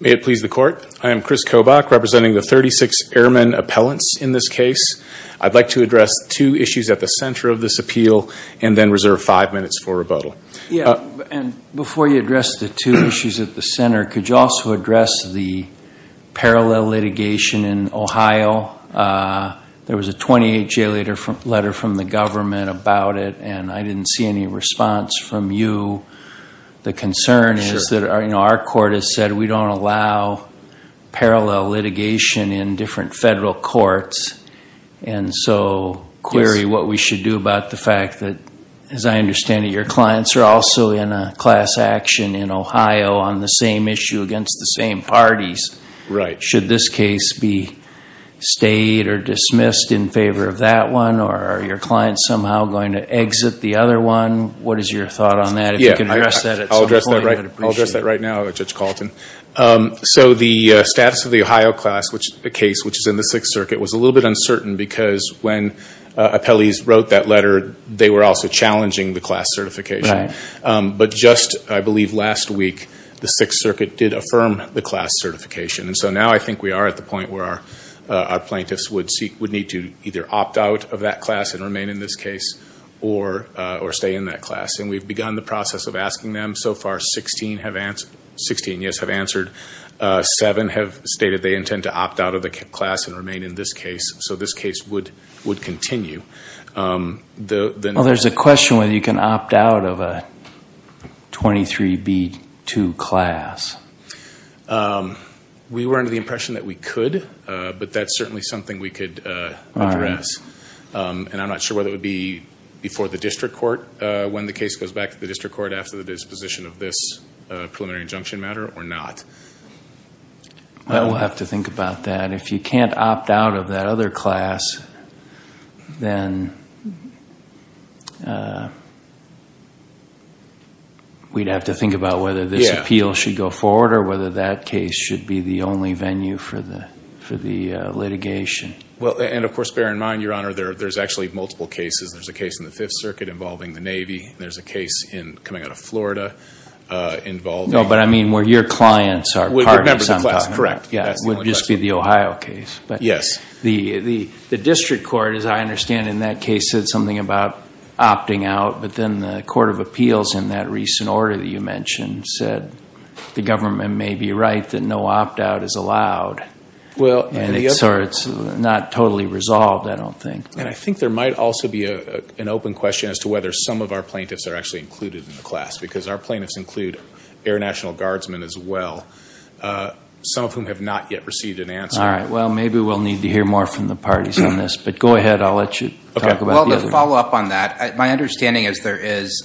May it please the court. I am Chris Kobach, representing the 36 airmen appellants in this case. I'd like to address two issues at the center of this appeal and then reserve five minutes for rebuttal. Yeah, and before you address the two issues at the center, could you also address the parallel litigation in Ohio? There was a 28-J letter from the government about it, and I didn't see any response from you. The concern is that our court has said we don't allow parallel litigation in different federal courts, and so query what we should do about the fact that, as I understand it, your clients are also in a class action in Ohio on the same issue against the same parties. Right. Should this case be stayed or dismissed in favor of that one, or are your clients somehow going to exit the other one? What is your thought on that? Yeah, I'll address that right now, Judge Calton. So the status of the Ohio case, which is in the Sixth Circuit, was a little bit uncertain because when appellees wrote that letter, they were also challenging the class certification. But just, I believe, last week the Sixth Circuit did affirm the class certification. And so now I think we are at the point where our plaintiffs would need to either opt out of that class and remain in this case or stay in that class. And we've begun the process of asking them. So far, 16 have answered, 16, yes, have answered. Seven have stated they intend to opt out of the class and remain in this case. So this case would continue. Well, there's a question whether you can opt out of a 23B2 class. We were under the impression that we could, but that's certainly something we could address. And I'm not sure whether it would be before the district court when the case goes back to the district court after the disposition of this preliminary injunction matter or not. Well, we'll have to think about that. If you can't opt out of that other class, then we'd have to think about whether this appeal should go forward or whether that case should be the only venue for the litigation. Well, and of course, bear in mind, Your Honor, there's actually multiple cases. There's a case in the Fifth Circuit involving the Navy. There's a case in, coming out of Florida, involving... No, but I mean where your clients are part of some... Correct. Yeah, it would just be the Ohio case. Yes. The district court, as I understand in that case, said something about opting out, but then the Court of Appeals in that recent order that you mentioned said the government may be right that no opt-out is allowed. Well, and it's not totally resolved, I don't think. And I think there might also be an open question as to whether some of our plaintiffs are actually included in the class, because our plaintiffs include Air National Guardsmen as well, some of whom have not yet received an answer. All right. Well, maybe we'll need to hear more from the parties on this, but go ahead. I'll let you talk about the other. Well, to follow up on that, my understanding is there is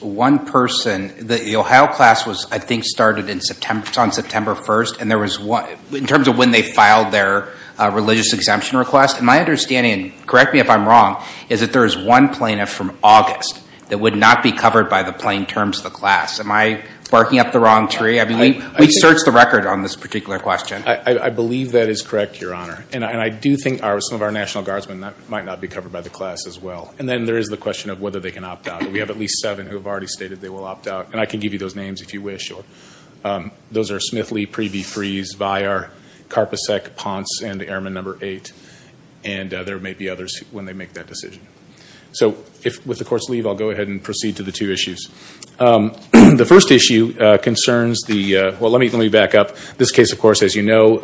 one person, the Ohio class was, I think, started on September 1st, in terms of when they filed their religious exemption request. And my understanding, and correct me if I'm wrong, is that there is one plaintiff from August that would not be covered by the plain terms of the class. Am I barking up the wrong tree? I mean, we searched the record on this particular question. I believe that is correct, Your Honor. And I do think some of our National Guardsmen might not be covered by the class as well. And then there is the question of whether they can opt out. We have at least seven who have already stated they will opt out, and I can give you those names if you wish. Those are Smithley, Preeby, Freese, Viar, Karpacek, Ponce, and Airman number eight. And there may be others when they make that decision. So, with the Court's leave, I'll go ahead and proceed to the two issues. The first issue concerns the, well, let me back up. This case, of course, as you know,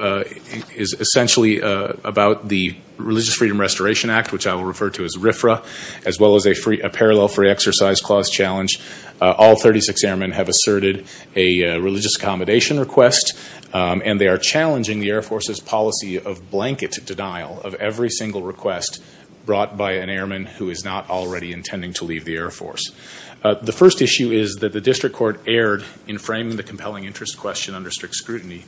is essentially about the Religious Freedom Restoration Act, which I will refer to as RFRA, as well as a Parallel Free Exercise Clause Challenge. All 36 airmen have asserted a religious accommodation request, and they are challenging the Air Force's policy of blanket denial of every single request brought by an airman who is not already intending to leave the Air Force. The first issue is that the District Court erred in framing the compelling interest question under strict scrutiny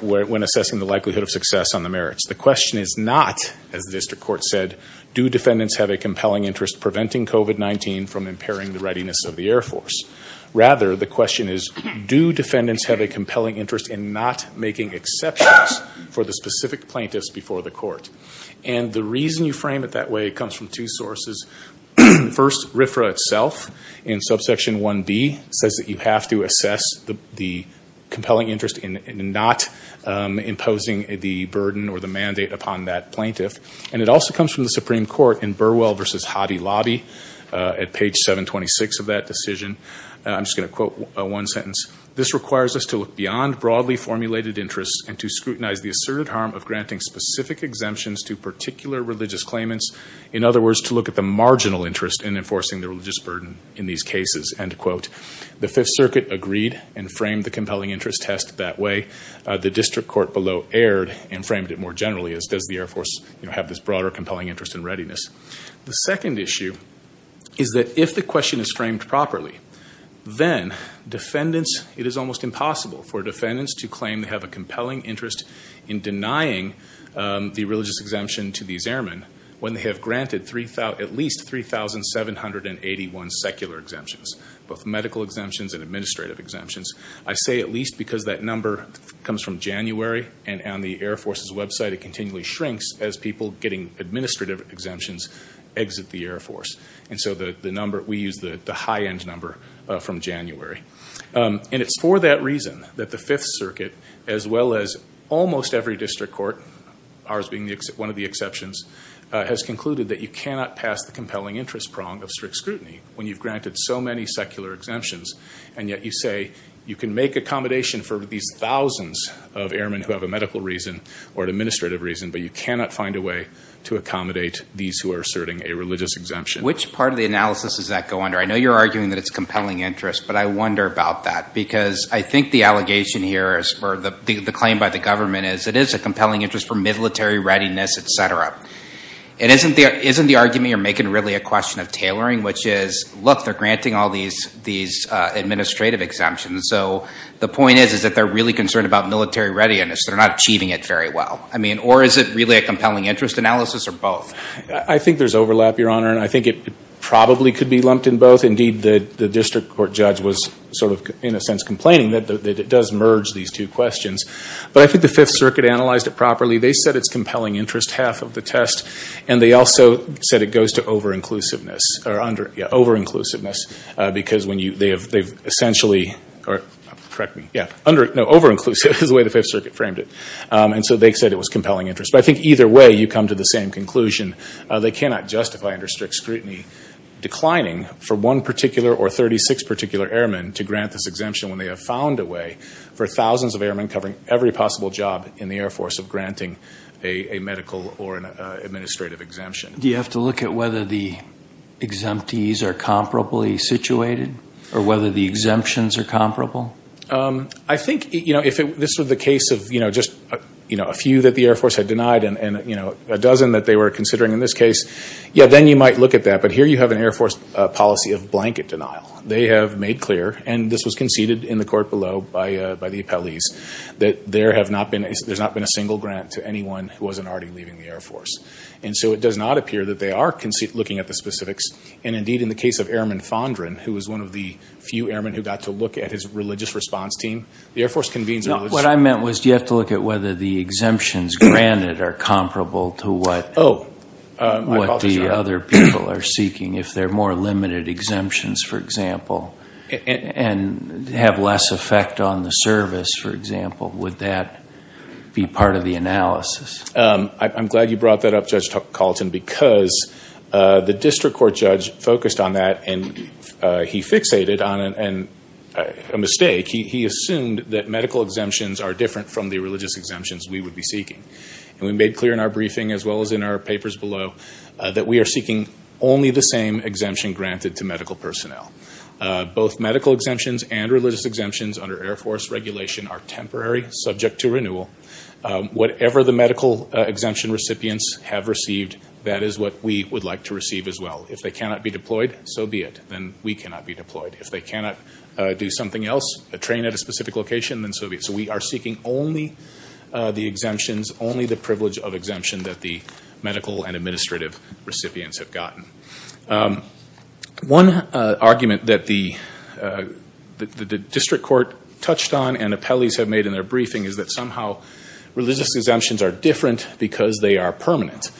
when assessing the likelihood of success on the merits. The question is not, as the District Court said, do defendants have a compelling interest preventing COVID-19 from impairing the readiness of the Air Force? Rather, the question is, do defendants have a compelling interest in not making exceptions for the specific plaintiffs before the Court? And the reason you frame it that way comes from two sources. First, RFRA itself, in subsection 1b, says that you have to assess the compelling interest in not imposing the burden or the mandate upon that plaintiff. And it also comes from the Supreme Court in Burwell v. Hottie Lobby at page 726 of that decision. I'm just going to quote one sentence. This requires us to look beyond broadly formulated interests and to scrutinize the asserted harm of granting specific exemptions to particular religious claimants. In other words, to look at the marginal interest in enforcing the religious burden in these cases, end quote. The Fifth Circuit agreed and framed the compelling interest test that way. The District Court below erred and framed it more generally, as does the Air Force, you know, have this broader compelling interest in readiness. The second issue is that if the question is framed properly, then defendants, it is almost impossible for defendants to claim they have a compelling interest in denying the religious exemption to these airmen when they have granted at least 3,781 secular exemptions, both medical exemptions and administrative exemptions. I say at least because that number comes from January and on the Air Force's website, it continually shrinks as people getting administrative exemptions exit the Air Force. And so the number, we use the high-end number from January. And it's for that reason that the Fifth Circuit, as well as almost every District Court, ours being one of the exceptions, has concluded that you cannot pass the compelling interest prong of strict scrutiny when you've granted so many secular exemptions. And yet you say you can make accommodation for these thousands of airmen who have a medical reason or an administrative reason, but you cannot find a way to accommodate these who are asserting a religious exemption. Which part of the analysis does that go under? I know you're arguing that it's compelling interest, but I wonder about that, because I think the allegation here is, or the claim by the government is, it is a compelling interest for military readiness, etc. It isn't the argument you're making really a question of tailoring, which is, look, they're granting all these administrative exemptions. So the point is, is that they're really concerned about military readiness. They're not achieving it very well. I mean, or is it really a compelling interest analysis, or both? I think there's overlap, Your Honor, and I think it probably could be lumped in both. Indeed, the District Court judge was sort of, in a sense, complaining that it does merge these two questions. But I think the Fifth Circuit analyzed it properly. They said it's compelling interest, half of the test, and they also said it goes to over-inclusiveness, or under, yeah, over-inclusiveness, because when you, they have, they've essentially, or correct me, yeah, under, no, over-inclusive is the way the Fifth Circuit framed it. And so they said it was compelling interest. But I think either way, you come to the same conclusion. They cannot justify under strict scrutiny declining for one particular or 36 particular airmen to grant this exemption when they have found a way for thousands of airmen covering every possible job in the Air Force of granting a medical or an administrative exemption. Do you have to look at whether the exemptees are comparably situated, or whether the exemptions are comparable? I think, you know, if this was the case of, you know, just, you know, a few that the Air Force had denied and, you know, a dozen that they were considering in this case, yeah, then you might look at that. But here you have an Air Force policy of blanket denial. They have made clear, and this was conceded in the court below by the appellees, that there have not been, there's not been a single grant to anyone who wasn't already leaving the Air Force. And so it does not appear that they are looking at the specifics. And indeed in the case of Airman Fondren, who was one of the few airmen who got to look at his religious response team, the Air Force convenes... No, what I meant was, do you have to look at whether the exemptions granted are comparable to what? Oh. What the other people are seeking. If they're more limited exemptions, for example, and have less effect on the service, for example, would that be part of the analysis? I'm glad you brought that up, Judge Carlton, because the district court judge focused on that and he fixated on a mistake. He assumed that medical exemptions are different from the religious exemptions we would be seeking. And we made clear in our briefing, as well as in our papers below, that we are seeking only the same exemption granted to medical personnel. Both medical exemptions and religious exemptions under Air Force regulation are temporary, subject to renewal. Whatever the medical exemption recipients have received, that is what we would like to receive as well. If they cannot be deployed, so be it. Then we cannot be deployed. If they cannot do something else, a train at a specific location, then so be it. So we are seeking only the exemptions, only the privilege of exemption that the medical and administrative recipients have gotten. One argument that the religious exemptions are different because they are permanent.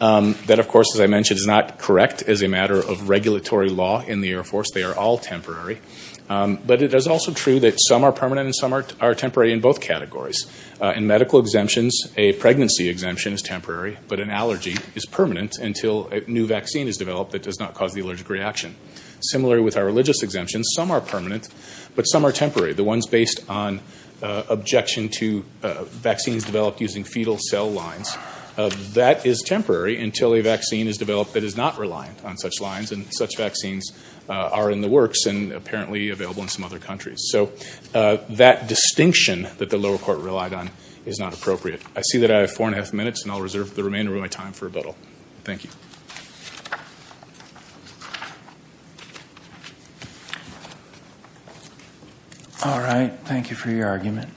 That, of course, as I mentioned, is not correct as a matter of regulatory law in the Air Force. They are all temporary. But it is also true that some are permanent and some are temporary in both categories. In medical exemptions, a pregnancy exemption is temporary, but an allergy is permanent until a new vaccine is developed that does not cause the allergic reaction. Similarly with our religious exemptions, some are permanent, but some are temporary. The ones based on objection to vaccines developed using fetal cell lines, that is temporary until a vaccine is developed that is not reliant on such lines and such vaccines are in the works and apparently available in some other countries. So that distinction that the lower court relied on is not appropriate. I see that I have four and a half minutes, and I'll reserve the remainder of my time for rebuttal. Thank you. All right, thank you for your argument.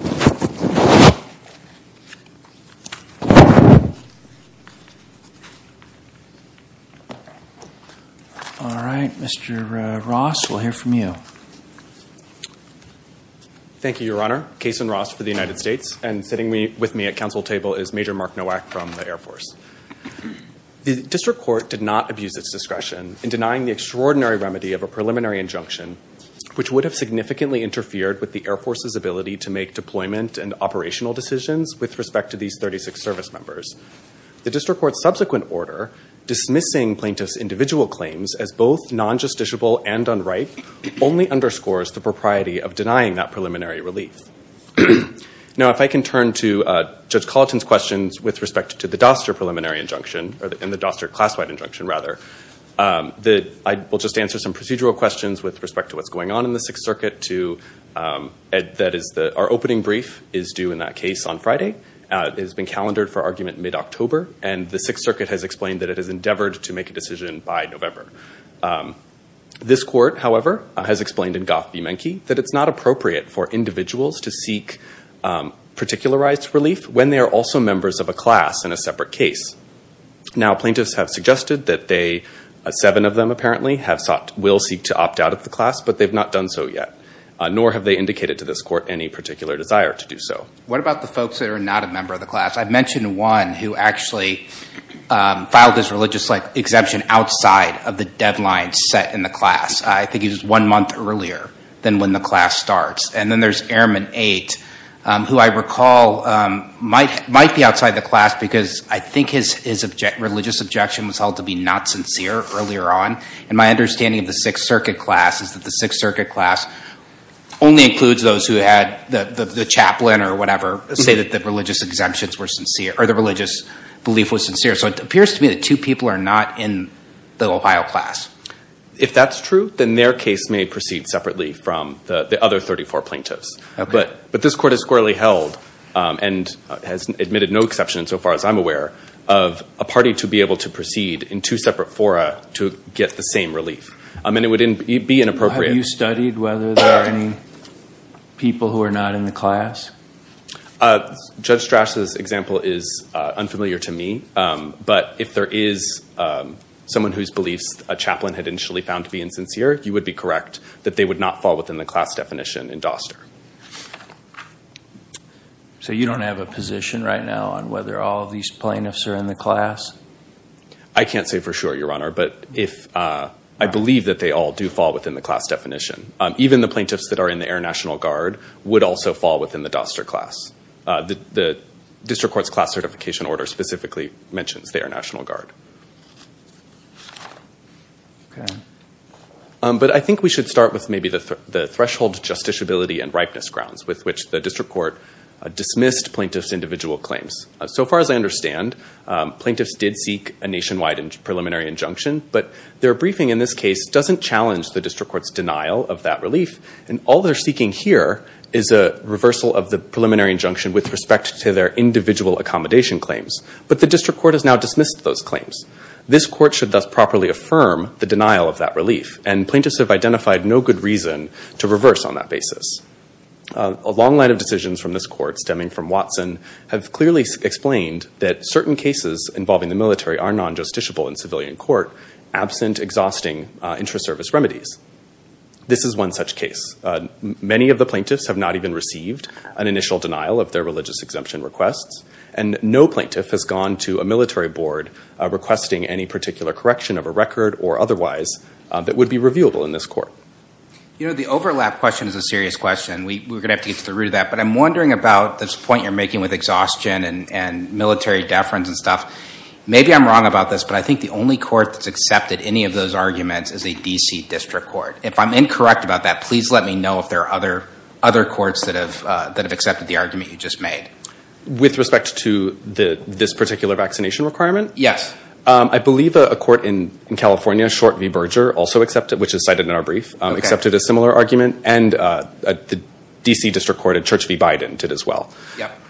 Thank you. All right, Mr. Ross, we'll hear from you. Thank you, Your Honor. Kason Ross for the United States, and sitting with me at council table is Major Mark Nowak from the Air Force. The district court did not abuse its discretion in denying the extraordinary remedy of a preliminary injunction, which would have significantly interfered with the Air Force's ability to make deployment and operational decisions with respect to these 36 service members. The district court's subsequent order dismissing plaintiffs individual claims as both non-justiciable and unright only underscores the propriety of denying that preliminary relief. Now, if I can turn to Judge Colleton's questions with respect to the Doster preliminary injunction, or in the Doster class-wide injunction, rather. I will just answer some procedural questions with respect to what's going on in the Sixth Circuit. Our opening brief is due in that case on Friday. It has been calendared for argument mid-October, and the Sixth Circuit has explained that it has endeavored to make a decision by November. This court, however, has explained in Goff v. Menke that it's not appropriate for individuals to seek particularized relief when they are also members of a class in a separate case. Now, plaintiffs have suggested that they, seven of them apparently, have sought, will seek to opt out of the class, but they've not done so yet. Nor have they indicated to this court any particular desire to do so. What about the folks that are not a member of the class? I mentioned one who actually filed his religious exemption outside of the deadline set in the class. I think he was one month earlier than when the class starts. And then there's Airman Eight, who I recall might be outside the class because I think his religious objection was held to be not sincere earlier on. And my understanding of the Sixth Circuit class is that the Sixth Circuit class only includes those who had the religious belief was sincere. So it appears to me that two people are not in the Ohio class. If that's true, then their case may proceed separately from the other 34 plaintiffs. But this court has squarely held, and has admitted no exception so far as I'm aware, of a party to be able to proceed in two separate fora to get the same relief. I mean, it would be inappropriate. Have you studied whether there are any people who are not in the class? Judge Strasse's example is unfamiliar to me, but if there is someone whose beliefs a chaplain had initially found to be insincere, you would be correct that they would not fall within the class definition in Doster. So you don't have a position right now on whether all of these plaintiffs are in the class? I can't say for sure, Your Honor. But if I believe that they all do fall within the class definition, even the plaintiffs that are in the Air National Guard would also fall within the Doster class. The District Court's class certification order specifically mentions the Air National Guard. But I think we should start with maybe the threshold justiciability and ripeness grounds with which the District Court dismissed plaintiffs' individual claims. So far as I understand, plaintiffs did seek a nationwide and preliminary injunction, but their briefing in this case doesn't challenge the District Court's denial of that relief, and all they're seeking here is a reversal of the preliminary injunction with respect to their individual accommodation claims. But the District Court has now dismissed those claims. This court should thus properly affirm the denial of that relief, and plaintiffs have identified no good reason to reverse on that basis. A long line of decisions from this court stemming from Watson have clearly explained that certain cases involving the military are non-justiciable in civilian court, absent exhausting intra-service remedies. This is one such case. Many of the plaintiffs have not even received an initial denial of their religious exemption requests, and no plaintiff has gone to a military board requesting any particular correction of a record or otherwise that would be reviewable in this court. You know, the overlap question is a serious question. We were gonna have to get to the root of that, but I'm wondering about this point you're making with exhaustion and maybe I'm wrong about this, but I think the only court that's accepted any of those arguments is a D.C. District Court. If I'm incorrect about that, please let me know if there are other other courts that have that have accepted the argument you just made. With respect to this particular vaccination requirement? Yes. I believe a court in California, Short v. Berger, also accepted, which is cited in our brief, accepted a similar argument, and the D.C. District Court at Church v. Biden did as well.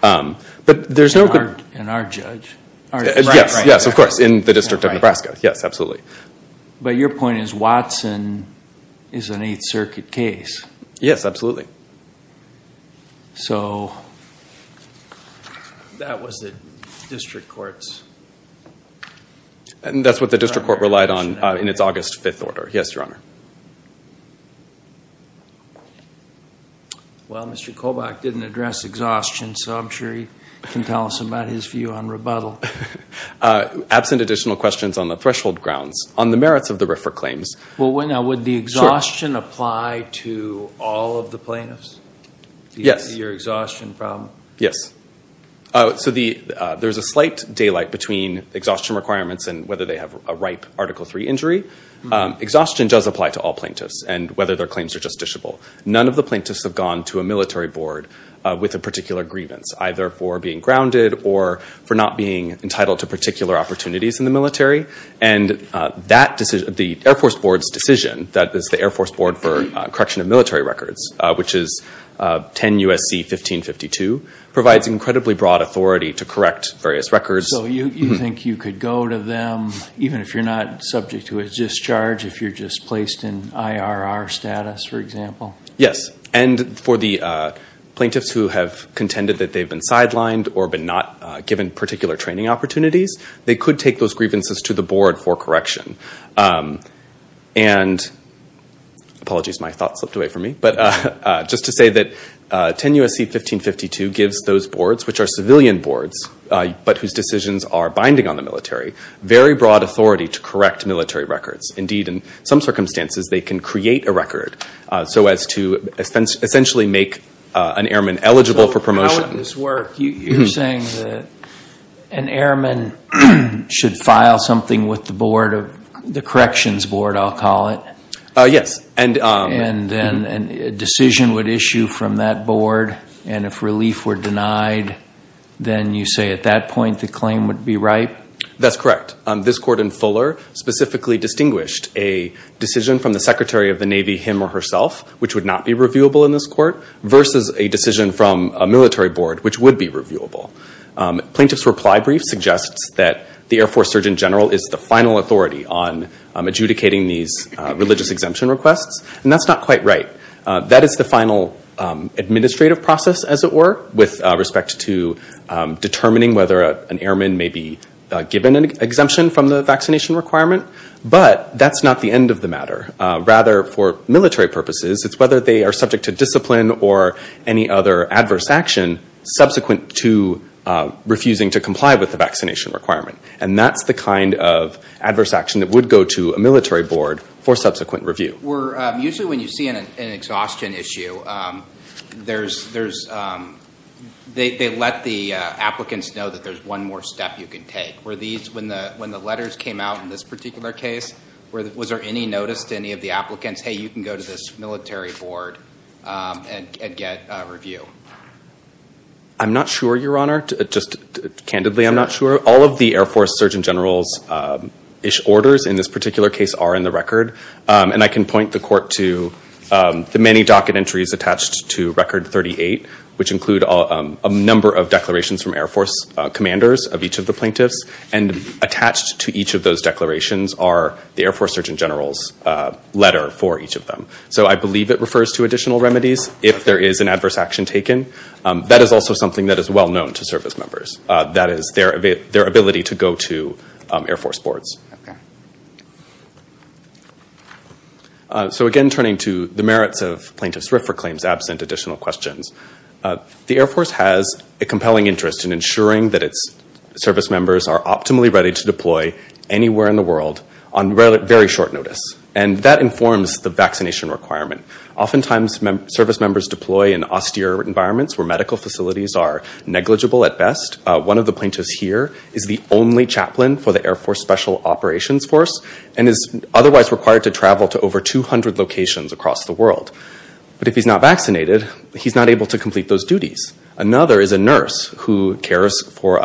But there's no... In our judge? Yes, yes, of course, in the District of Nebraska. Yes, absolutely. But your point is Watson is an Eighth Circuit case. Yes, absolutely. So that was the District Court's... And that's what the District Court relied on in its August 5th order. Yes, Your Honor. Well, Mr. Kovach didn't address exhaustion, so I'm sure he can tell us about his view on rebuttal. Absent additional questions on the threshold grounds. On the merits of the RFRA claims... Well, now would the exhaustion apply to all of the plaintiffs? Yes. Your exhaustion problem? Yes. So there's a slight daylight between exhaustion requirements and whether they have a ripe Article III injury. Exhaustion does apply to all plaintiffs and whether their claims are justiciable. None of the plaintiffs have gone to a military board with a particular grievance, either for being grounded or for not being entitled to particular opportunities in the military. And that decision, the Air Force Board's decision, that is the Air Force Board for correction of military records, which is 10 U.S.C. 1552, provides incredibly broad authority to correct various records. So you think you could go to them, even if you're not subject to a discharge, if you're just placed in IRR status, for example? Yes. And for the plaintiffs who have contended that they've been sidelined or been not given particular training opportunities, they could take those grievances to the board for correction. And apologies, my thought slipped away from me, but just to say that 10 U.S.C. 1552 gives those boards, which are civilian boards, but whose decisions are binding on the military, very broad authority to correct military records. Indeed, in some circumstances, they can create a record so as to essentially make an airman eligible for promotion. So how would this work? You're saying that an airman should file something with the board of, the corrections board, I'll call it? Yes. And then a decision would issue from that board, and if relief were denied, then you say at that point the claim would be ripe? That's correct. This court in Fuller specifically distinguished a decision from the Secretary of the Navy, him or herself, which would not be reviewable in this court, versus a decision from a military board, which would be reviewable. Plaintiff's reply brief suggests that the Air Force Surgeon General is the final authority on adjudicating these religious exemption requests, and that's not quite right. That is the final administrative process, as it were, with respect to determining whether an airman may be given an exemption from the vaccination requirement. But that's not the end of the matter. Rather, for military purposes, it's whether they are subject to discipline or any other adverse action subsequent to refusing to comply with the vaccination requirement. And that's the kind of adverse action that would go to a military board for subsequent review. Were, usually when you see an exhaustion issue, there's, they let the applicants know that there's one more step you can take. Were these, when the letters came out in this particular case, was there any notice to any of the applicants, hey, you can go to this military board and get review? I'm not sure, Your Honor. Just candidly, I'm not sure. All of the Air Force Surgeon General's orders in this particular case are in the record. And I can point the court to the many docket entries attached to record 38, which include a number of declarations from Air Force commanders of each of the plaintiffs. And attached to each of those declarations are the Air Force Surgeon General's order for each of them. So I believe it refers to additional remedies if there is an adverse action taken. That is also something that is well known to service members. That is their ability to go to Air Force boards. So again, turning to the merits of plaintiff's RFRA claims absent additional questions. The Air Force has a compelling interest in ensuring that its service members are optimally ready to deploy anywhere in the world on very short notice. And that informs the vaccination requirement. Oftentimes, service members deploy in austere environments where medical facilities are negligible at best. One of the plaintiffs here is the only chaplain for the Air Force Special Operations Force and is otherwise required to travel to over 200 locations across the world. But if he's not vaccinated, he's not able to complete those duties. Another is a nurse who cares for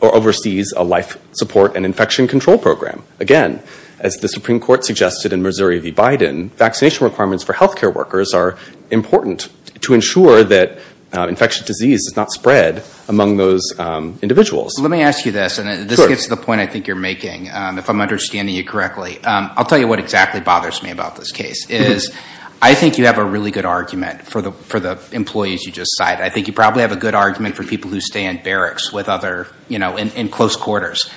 or oversees a life support and infection control program. Again, as the Supreme Court suggested in Missouri v. Biden, vaccination requirements for health care workers are important to ensure that infectious disease is not spread among those individuals. Let me ask you this, and this gets to the point I think you're making, if I'm understanding you correctly. I'll tell you what exactly bothers me about this case. I think you have a really good argument for the employees you just cited. I think you probably have a good argument for people who stay in barracks with other, you know, in close quarters.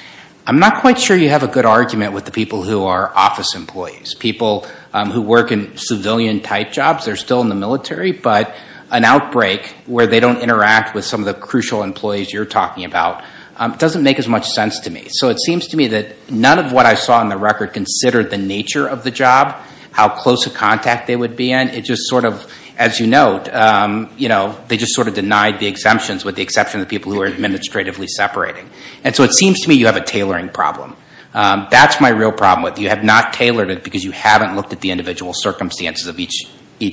I'm not quite sure you have a good argument with the people who are office employees, people who work in civilian type jobs. They're still in the military, but an outbreak where they don't interact with some of the crucial employees you're talking about doesn't make as much sense to me. So it seems to me that none of what I saw in the record considered the nature of the job, how close of contact they would be in. It just sort of, as you note, you know, they just sort of denied the exemptions with the exception of people who are administratively separating. And so it seems to me you have a tailoring problem. That's my real problem with you. You have not tailored it because you haven't looked at the individual circumstances of each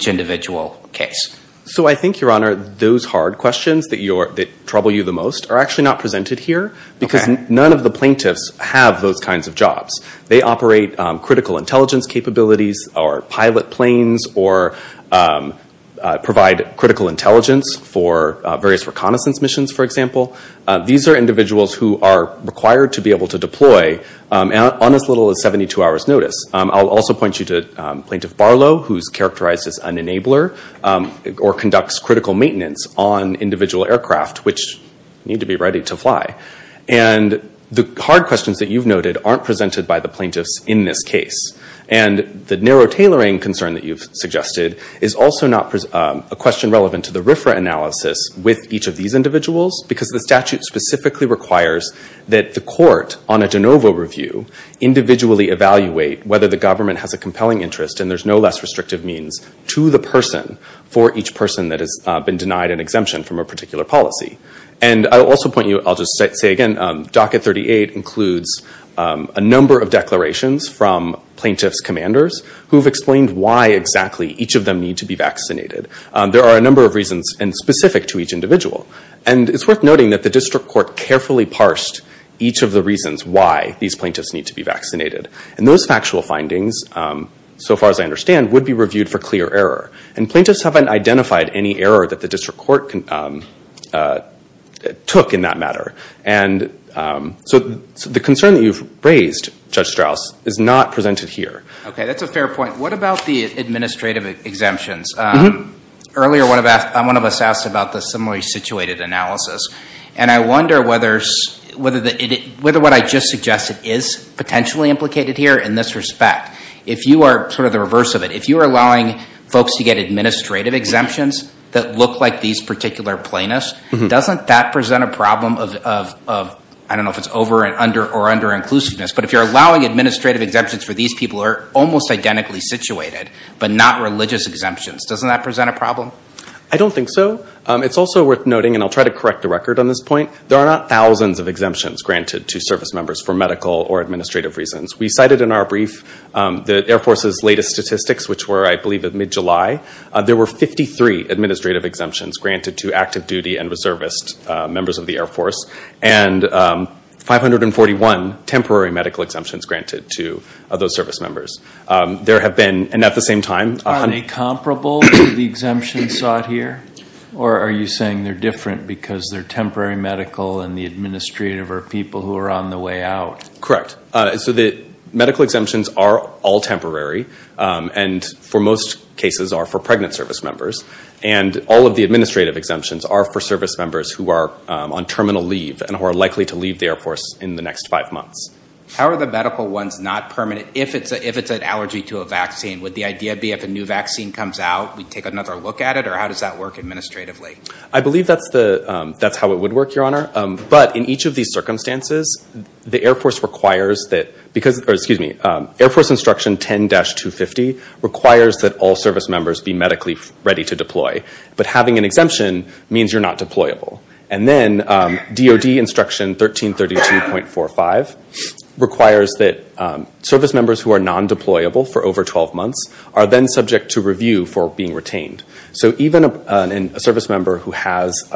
individual case. So I think, Your Honor, those hard questions that trouble you the most are actually not presented here because none of the plaintiffs have those kinds of jobs. They operate critical intelligence capabilities or pilot planes or provide critical intelligence for various reconnaissance missions, for example. These are individuals who are required to be able to deploy on as little as 72 hours notice. I'll also point you to Plaintiff Barlow, who's characterized as an enabler or conducts critical maintenance on individual aircraft, which need to be ready to fly. The hard questions that you've noted aren't presented by the plaintiffs in this case. And the narrow tailoring concern that you've suggested is also not a question relevant to the RFRA analysis with each of these individuals because the statute specifically requires that the court on a de novo review individually evaluate whether the government has a compelling interest and there's no less restrictive means to the person for each person that has been denied an exemption from a particular policy. And I'll also point you, I'll just say again, Docket 38 includes a number of declarations from plaintiff's commanders who've explained why exactly each of them need to be vaccinated. There are a number of reasons and specific to each individual and it's worth noting that the district court carefully parsed each of the reasons why these plaintiffs need to be vaccinated. And those factual findings, so far as I understand, would be reviewed for clear error and plaintiffs haven't identified any error that the district court took in that matter. And so the concern that you've raised, Judge Strauss, is not presented here. Okay, that's a fair point. What about the administrative exemptions? Earlier, one of us asked about the similarly situated analysis. And I wonder whether what I just suggested is potentially implicated here in this respect. If you are sort of the reverse of it, if you are allowing folks to get administrative exemptions that look like these particular plaintiffs, doesn't that present a problem of I don't know if it's over or under inclusiveness, but if you're allowing administrative exemptions for these people who are almost identically situated, but not religious exemptions, doesn't that present a problem? I don't think so. It's also worth noting, and I'll try to correct the record on this point, there are not thousands of exemptions granted to service members for medical or administrative reasons. We cited in our brief the Air Force's latest statistics, which were, I believe, at mid-July. There were 53 administrative exemptions granted to active duty and reservist members of the Air Force and 541 temporary medical exemptions granted to those service members. There have been, and at the same time... Are they comparable to the exemptions sought here? Or are you saying they're different because they're temporary medical and the administrative are people who are on the way out? Correct. So the medical exemptions are all temporary, and for most cases are for pregnant service members. And all of the administrative exemptions are for service members who are on terminal leave and who are likely to leave the Air Force in the next five months. How are the medical ones not permanent? If it's an allergy to a vaccine, would the idea be if a new vaccine comes out, we take another look at it, or how does that work administratively? I believe that's how it would work, Your Honor. But in each of these circumstances, the Air Force requires that... Air Force Instruction 10-250 requires that all service members be medically ready to deploy. But having an exemption means you're not deployable. And then DOD Instruction 1332.45 requires that service members who are non-deployable for over 12 months are then subject to review for being retained. So even a service member who has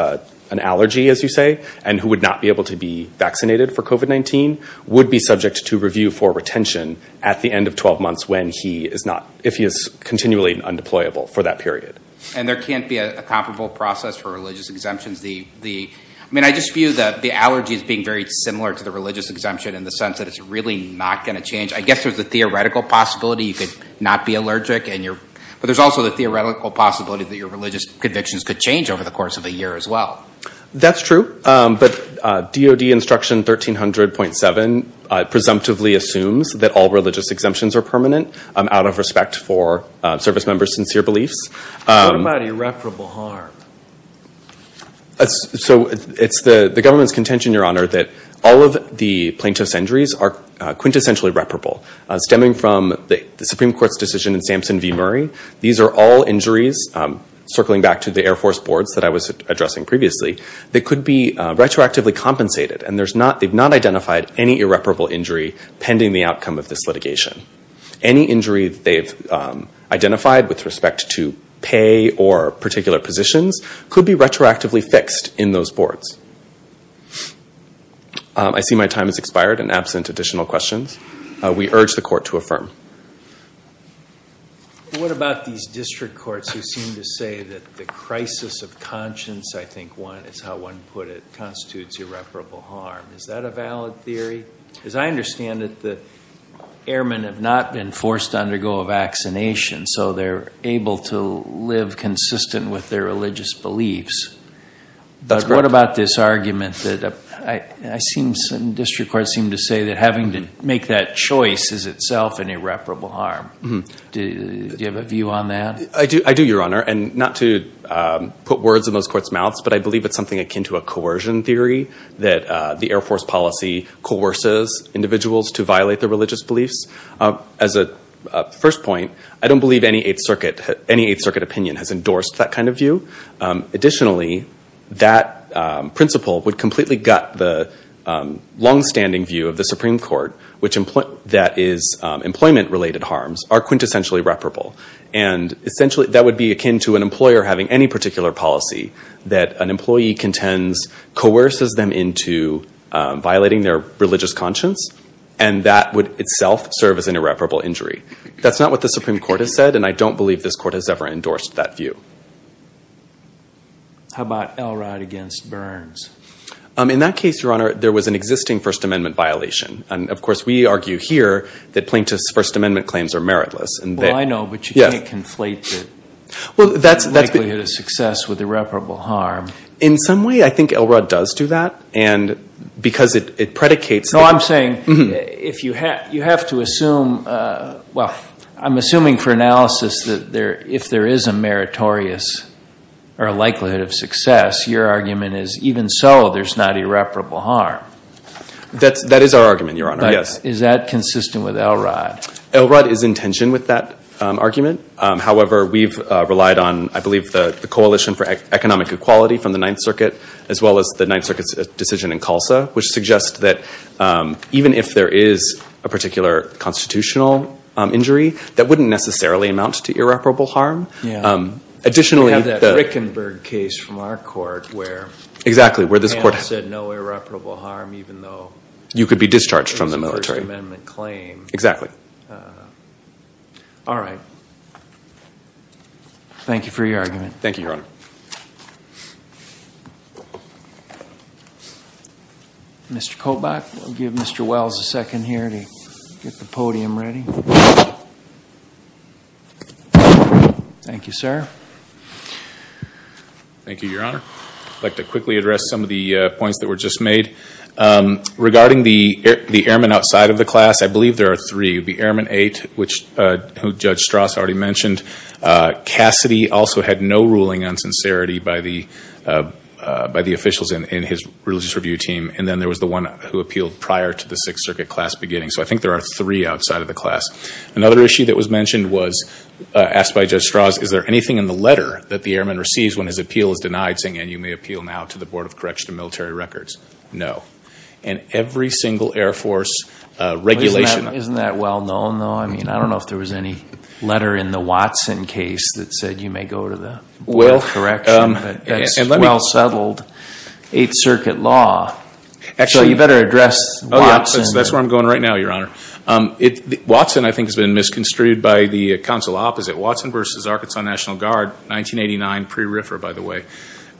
an allergy, as you say, and who would not be able to be vaccinated for COVID-19 would be subject to review for retention at the end of 12 months when he is not... if he is continually undeployable for that period. And there can't be a comparable process for religious exemptions. I mean, I just view that the allergy is being very similar to the religious exemption in the sense that it's really not going to change. I guess there's a theoretical possibility you could not be allergic, but there's also the theoretical possibility that your religious convictions could change over the course of a year as well. That's true, but DOD Instruction 1300.7 presumptively assumes that all religious exemptions are permanent out of respect for service members' sincere beliefs. So it's the government's contention, Your Honor, that all of the plaintiff's injuries are quintessentially reparable, stemming from the Supreme Court's decision in Sampson v. Murray. These are all injuries circling back to the Air Force boards that I was addressing previously, that could be retroactively compensated. And they've not identified any irreparable injury pending the outcome of this litigation. Any injury they've identified with respect to pay or particular positions could be retroactively fixed in those boards. I see my time has expired and absent additional questions. We urge the court to affirm. What about these district courts who seem to say that the crisis of conscience, I think one is how one put it, constitutes irreparable harm. Is that a valid theory? As I understand it, the airmen have not been forced to undergo a vaccination, so they're able to live consistent with their religious beliefs. But what about this argument that I seen some district courts seem to say that having to make that choice is itself an irreparable harm. Do you have a view on that? I do, Your Honor, and not to put words in those courts' mouths, but I believe it's something akin to a coercion theory that the Air Force policy coerces individuals to violate their religious beliefs. As a first point, I don't believe any Eighth Circuit opinion has endorsed that kind of view. Additionally, that completely gut the long-standing view of the Supreme Court that employment-related harms are quintessentially reparable. That would be akin to an employer having any particular policy that an employee contends coerces them into violating their religious conscience, and that would itself serve as an irreparable injury. That's not what the Supreme Court has said, and I don't believe this court has ever endorsed that view. How about Elrod against Burns? In that case, Your Honor, there was an existing First Amendment violation. And of course, we argue here that plaintiffs' First Amendment claims are meritless. Well, I know, but you can't conflate the likelihood of success with irreparable harm. In some way, I think Elrod does do that, and because it predicates... No, I'm saying if you have to assume, well, I'm assuming for analysis that if there is a meritorious likelihood of success, your argument is even so, there's not irreparable harm. That is our argument, Your Honor. Yes. Is that consistent with Elrod? Elrod is in tension with that argument. However, we've relied on, I believe, the Coalition for Economic Equality from the Ninth Circuit, as well as the Ninth Circuit's decision in CULSA, which suggests that even if there is a particular constitutional injury, that wouldn't necessarily amount to irreparable harm. Additionally... We have that Rickenberg case from our court where... Exactly, where this court said no irreparable harm, even though you could be discharged from the military. It's a First Amendment claim. Exactly. All right. Thank you for your argument. Thank you, Your Honor. Mr. Kobach, I'll give Mr. Wells a second here to get the podium ready. Thank you, sir. Thank you, Your Honor. I'd like to quickly address some of the points that were just made. Regarding the airmen outside of the class, I believe there are three. It would be Airman 8, which Judge Strauss already mentioned. Cassidy also had no ruling on sincerity by the officials in his religious review team, and then there was the one who appealed prior to the Sixth Circuit class beginning. So I think there are three outside of the class. Another issue that was mentioned was asked by Judge Strauss, is there anything in the letter that the airman receives when his appeal is denied, saying, and you may appeal now to the Board of Correctional Military Records? No. And every single Air Force regulation... Isn't that well known, though? I mean, I don't know if there was any letter in the Watson case that said you may go to the Board of Correctional Military Records, but that's well settled Eighth Circuit law. Actually, you better address Watson. That's where I'm going right now, Your Honor. Watson, I think, has been misconstrued by the council opposite. Watson v. Arkansas National Guard, 1989 pre-RIFR, by the way,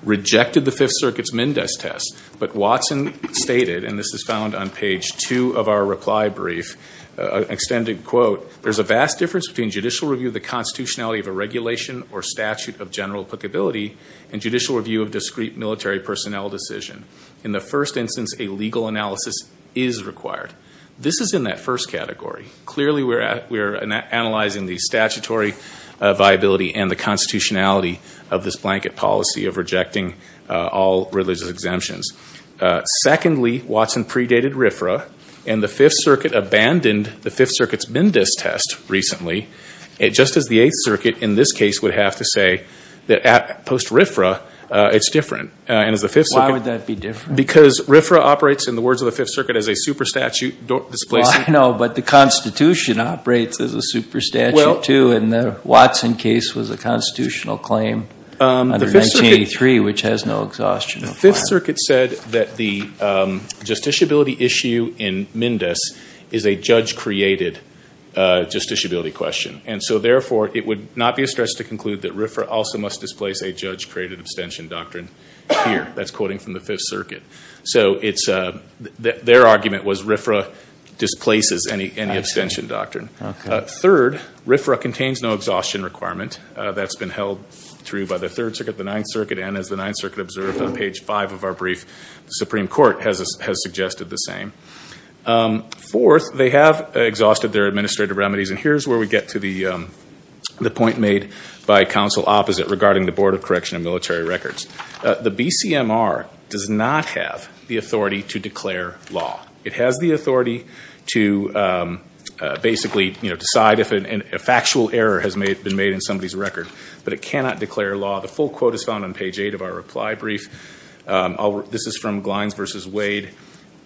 rejected the Fifth Circuit's Mendes test, but Watson stated, and this is found on page two of our reply brief, extended quote, there's a vast difference between judicial review of the constitutionality of a regulation or statute of general applicability and judicial review of discrete military personnel decision. In the first instance, a legal analysis is required. This is in that first category. Clearly, we're analyzing the statutory viability and the constitutionality of this blanket policy of rejecting all religious exemptions. Secondly, Watson predated RIFRA, and the Fifth Circuit abandoned the Fifth Circuit's Mendes test recently. It just as the Eighth Circuit, in this case, would have to say that at post-RIFRA, it's different. Why would that be different? Because RIFRA operates, in the words of the Fifth Circuit, as a super statute. I know, but the Constitution operates as a super statute, too, and the Watson case was a constitutional claim under 1983, which has no exhaustion. The Fifth Circuit said that the justiciability issue in Mendes is a judge-created justiciability question, and so therefore, it would not be a stress to conclude that RIFRA also must displace a judge-created abstention doctrine. Here, that's quoting from the Fifth Circuit. So, their argument was RIFRA displaces any abstention doctrine. Third, RIFRA contains no exhaustion requirement. That's been held through by the Third Circuit, the Ninth Circuit, and as the Ninth Circuit observed on page five of our brief, the Supreme Court has suggested the same. Fourth, they have exhausted their administrative remedies, and here's where we get to the BCMR does not have the authority to declare law. It has the authority to basically, you know, decide if a factual error has been made in somebody's record, but it cannot declare law. The full quote is found on page eight of our reply brief. This is from Glines versus Wade.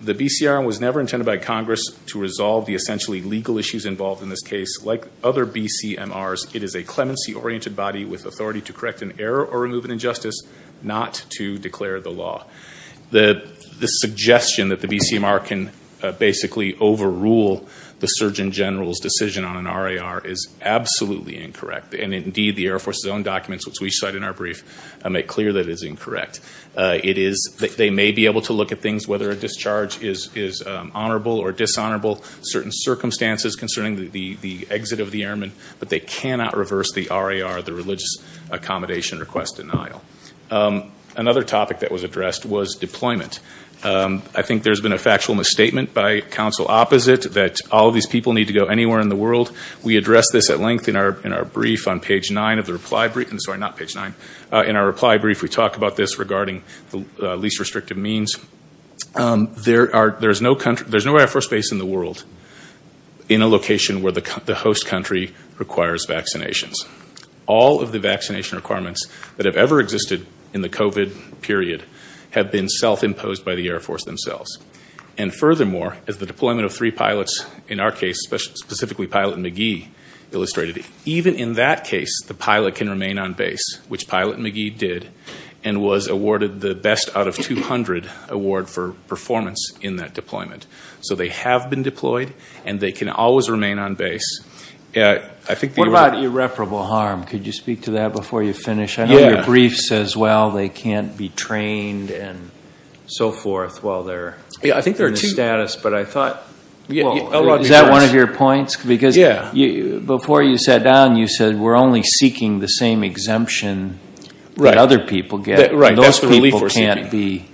The BCR was never intended by Congress to resolve the essentially legal issues involved in this case. Like other BCMRs, it is a clemency-oriented body with authority to correct an error or remove an injustice, not to declare the law. The suggestion that the BCMR can basically overrule the Surgeon General's decision on an RAR is absolutely incorrect, and indeed, the Air Force's own documents, which we cite in our brief, make clear that it is incorrect. It is, they may be able to look at things, whether a discharge is honorable or dishonorable, certain circumstances concerning the exit of the airman, but they cannot reverse the RAR, the Religious Accommodation Request Denial. Another topic that was addressed was deployment. I think there's been a factual misstatement by counsel opposite that all these people need to go anywhere in the world. We address this at length in our brief on page nine of the reply brief. I'm sorry, not page nine. In our reply brief, we talk about this regarding the least restrictive means. There's no Air Force base in the world in a location where the host country requires vaccinations. All of the vaccination requirements that have ever existed in the COVID period have been self-imposed by the Air Force themselves. And furthermore, as the deployment of three pilots, in our case, specifically Pilot McGee, illustrated, even in that case, the pilot can remain on base, which Pilot McGee did and was awarded the best out of 200 award for performance in that deployment. So they have been deployed and they can always remain on base. What about irreparable harm? Could you speak to that before you finish? I know your brief says, well, they can't be trained and so forth while they're in the status. But I thought, is that one of your points? Because before you sat down, you said we're only seeking the same exemption that other people get. Right. Those people can't be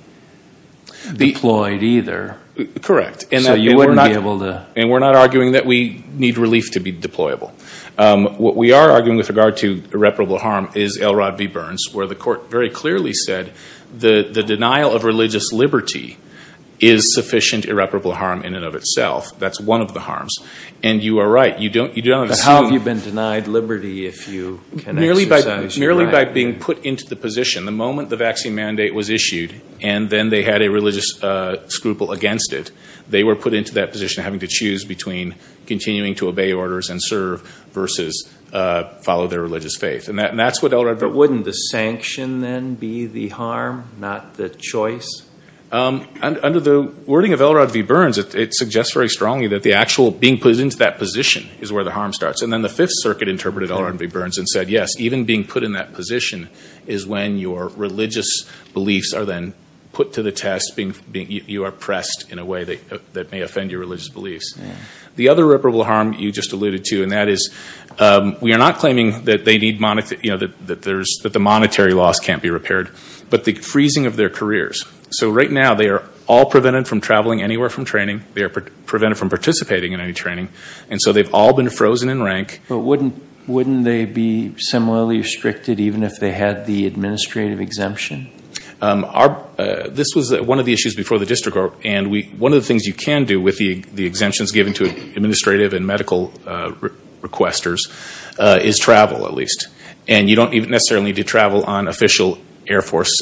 deployed either. Correct. And we're not arguing that we need relief to be deployable. What we are arguing with regard to irreparable harm is L. Rod V. Burns, where the court very clearly said the denial of religious liberty is sufficient irreparable harm in and of itself. That's one of the harms. And you are right. You don't, you don't. But how have you been denied liberty if you can exercise your right? Merely by being put into the position. The moment the vaccine mandate was issued and then they had a religious scruple against it, they were put into that position having to choose between continuing to obey orders and serve versus follow their religious faith. And that's what L. Rod. But wouldn't the sanction then be the harm, not the choice? Under the wording of L. Rod V. Burns, it suggests very strongly that the actual being put into that position is where the harm starts. And then the Fifth Circuit interpreted L. Rod V. Burns and said, yes, even being put in that position is when your religious beliefs are then put to the test, you are pressed in a way that may offend your religious beliefs. The other irreparable harm you just alluded to, and that is we are not claiming that they need, you know, that the monetary loss can't be repaired, but the freezing of their careers. So right now they are all prevented from traveling anywhere from training. They are prevented from participating in any training. And so they have all been frozen in rank. But wouldn't they be similarly restricted even if they had the administrative exemption? This was one of the issues before the district court. And one of the things you can do with the exemptions given to administrative and medical requesters is travel at least. And you don't necessarily need to travel on official Air Force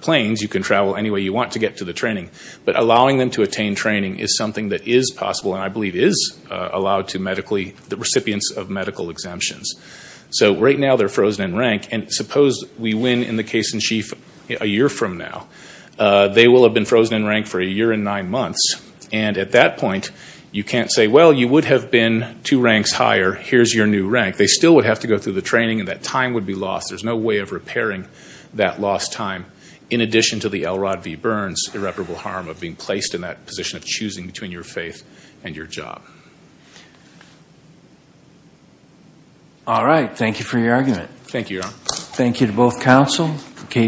planes. You can travel any way you want to get to the training. But allowing them to attain training is something that is possible. And I believe is allowed to the recipients of medical exemptions. So right now they are frozen in rank. And suppose we win in the case in chief a year from now. They will have been frozen in rank for a year and nine months. And at that point you can't say, well, you would have been two ranks higher. Here's your new rank. They still would have to go through the training and that time would be lost. There's no way of repairing that lost time. In addition to the L. Rod V. Burns irreparable harm of being placed in that position of choosing between your faith and your job. All right. Thank you for your argument. Thank you. Thank you to both counsel.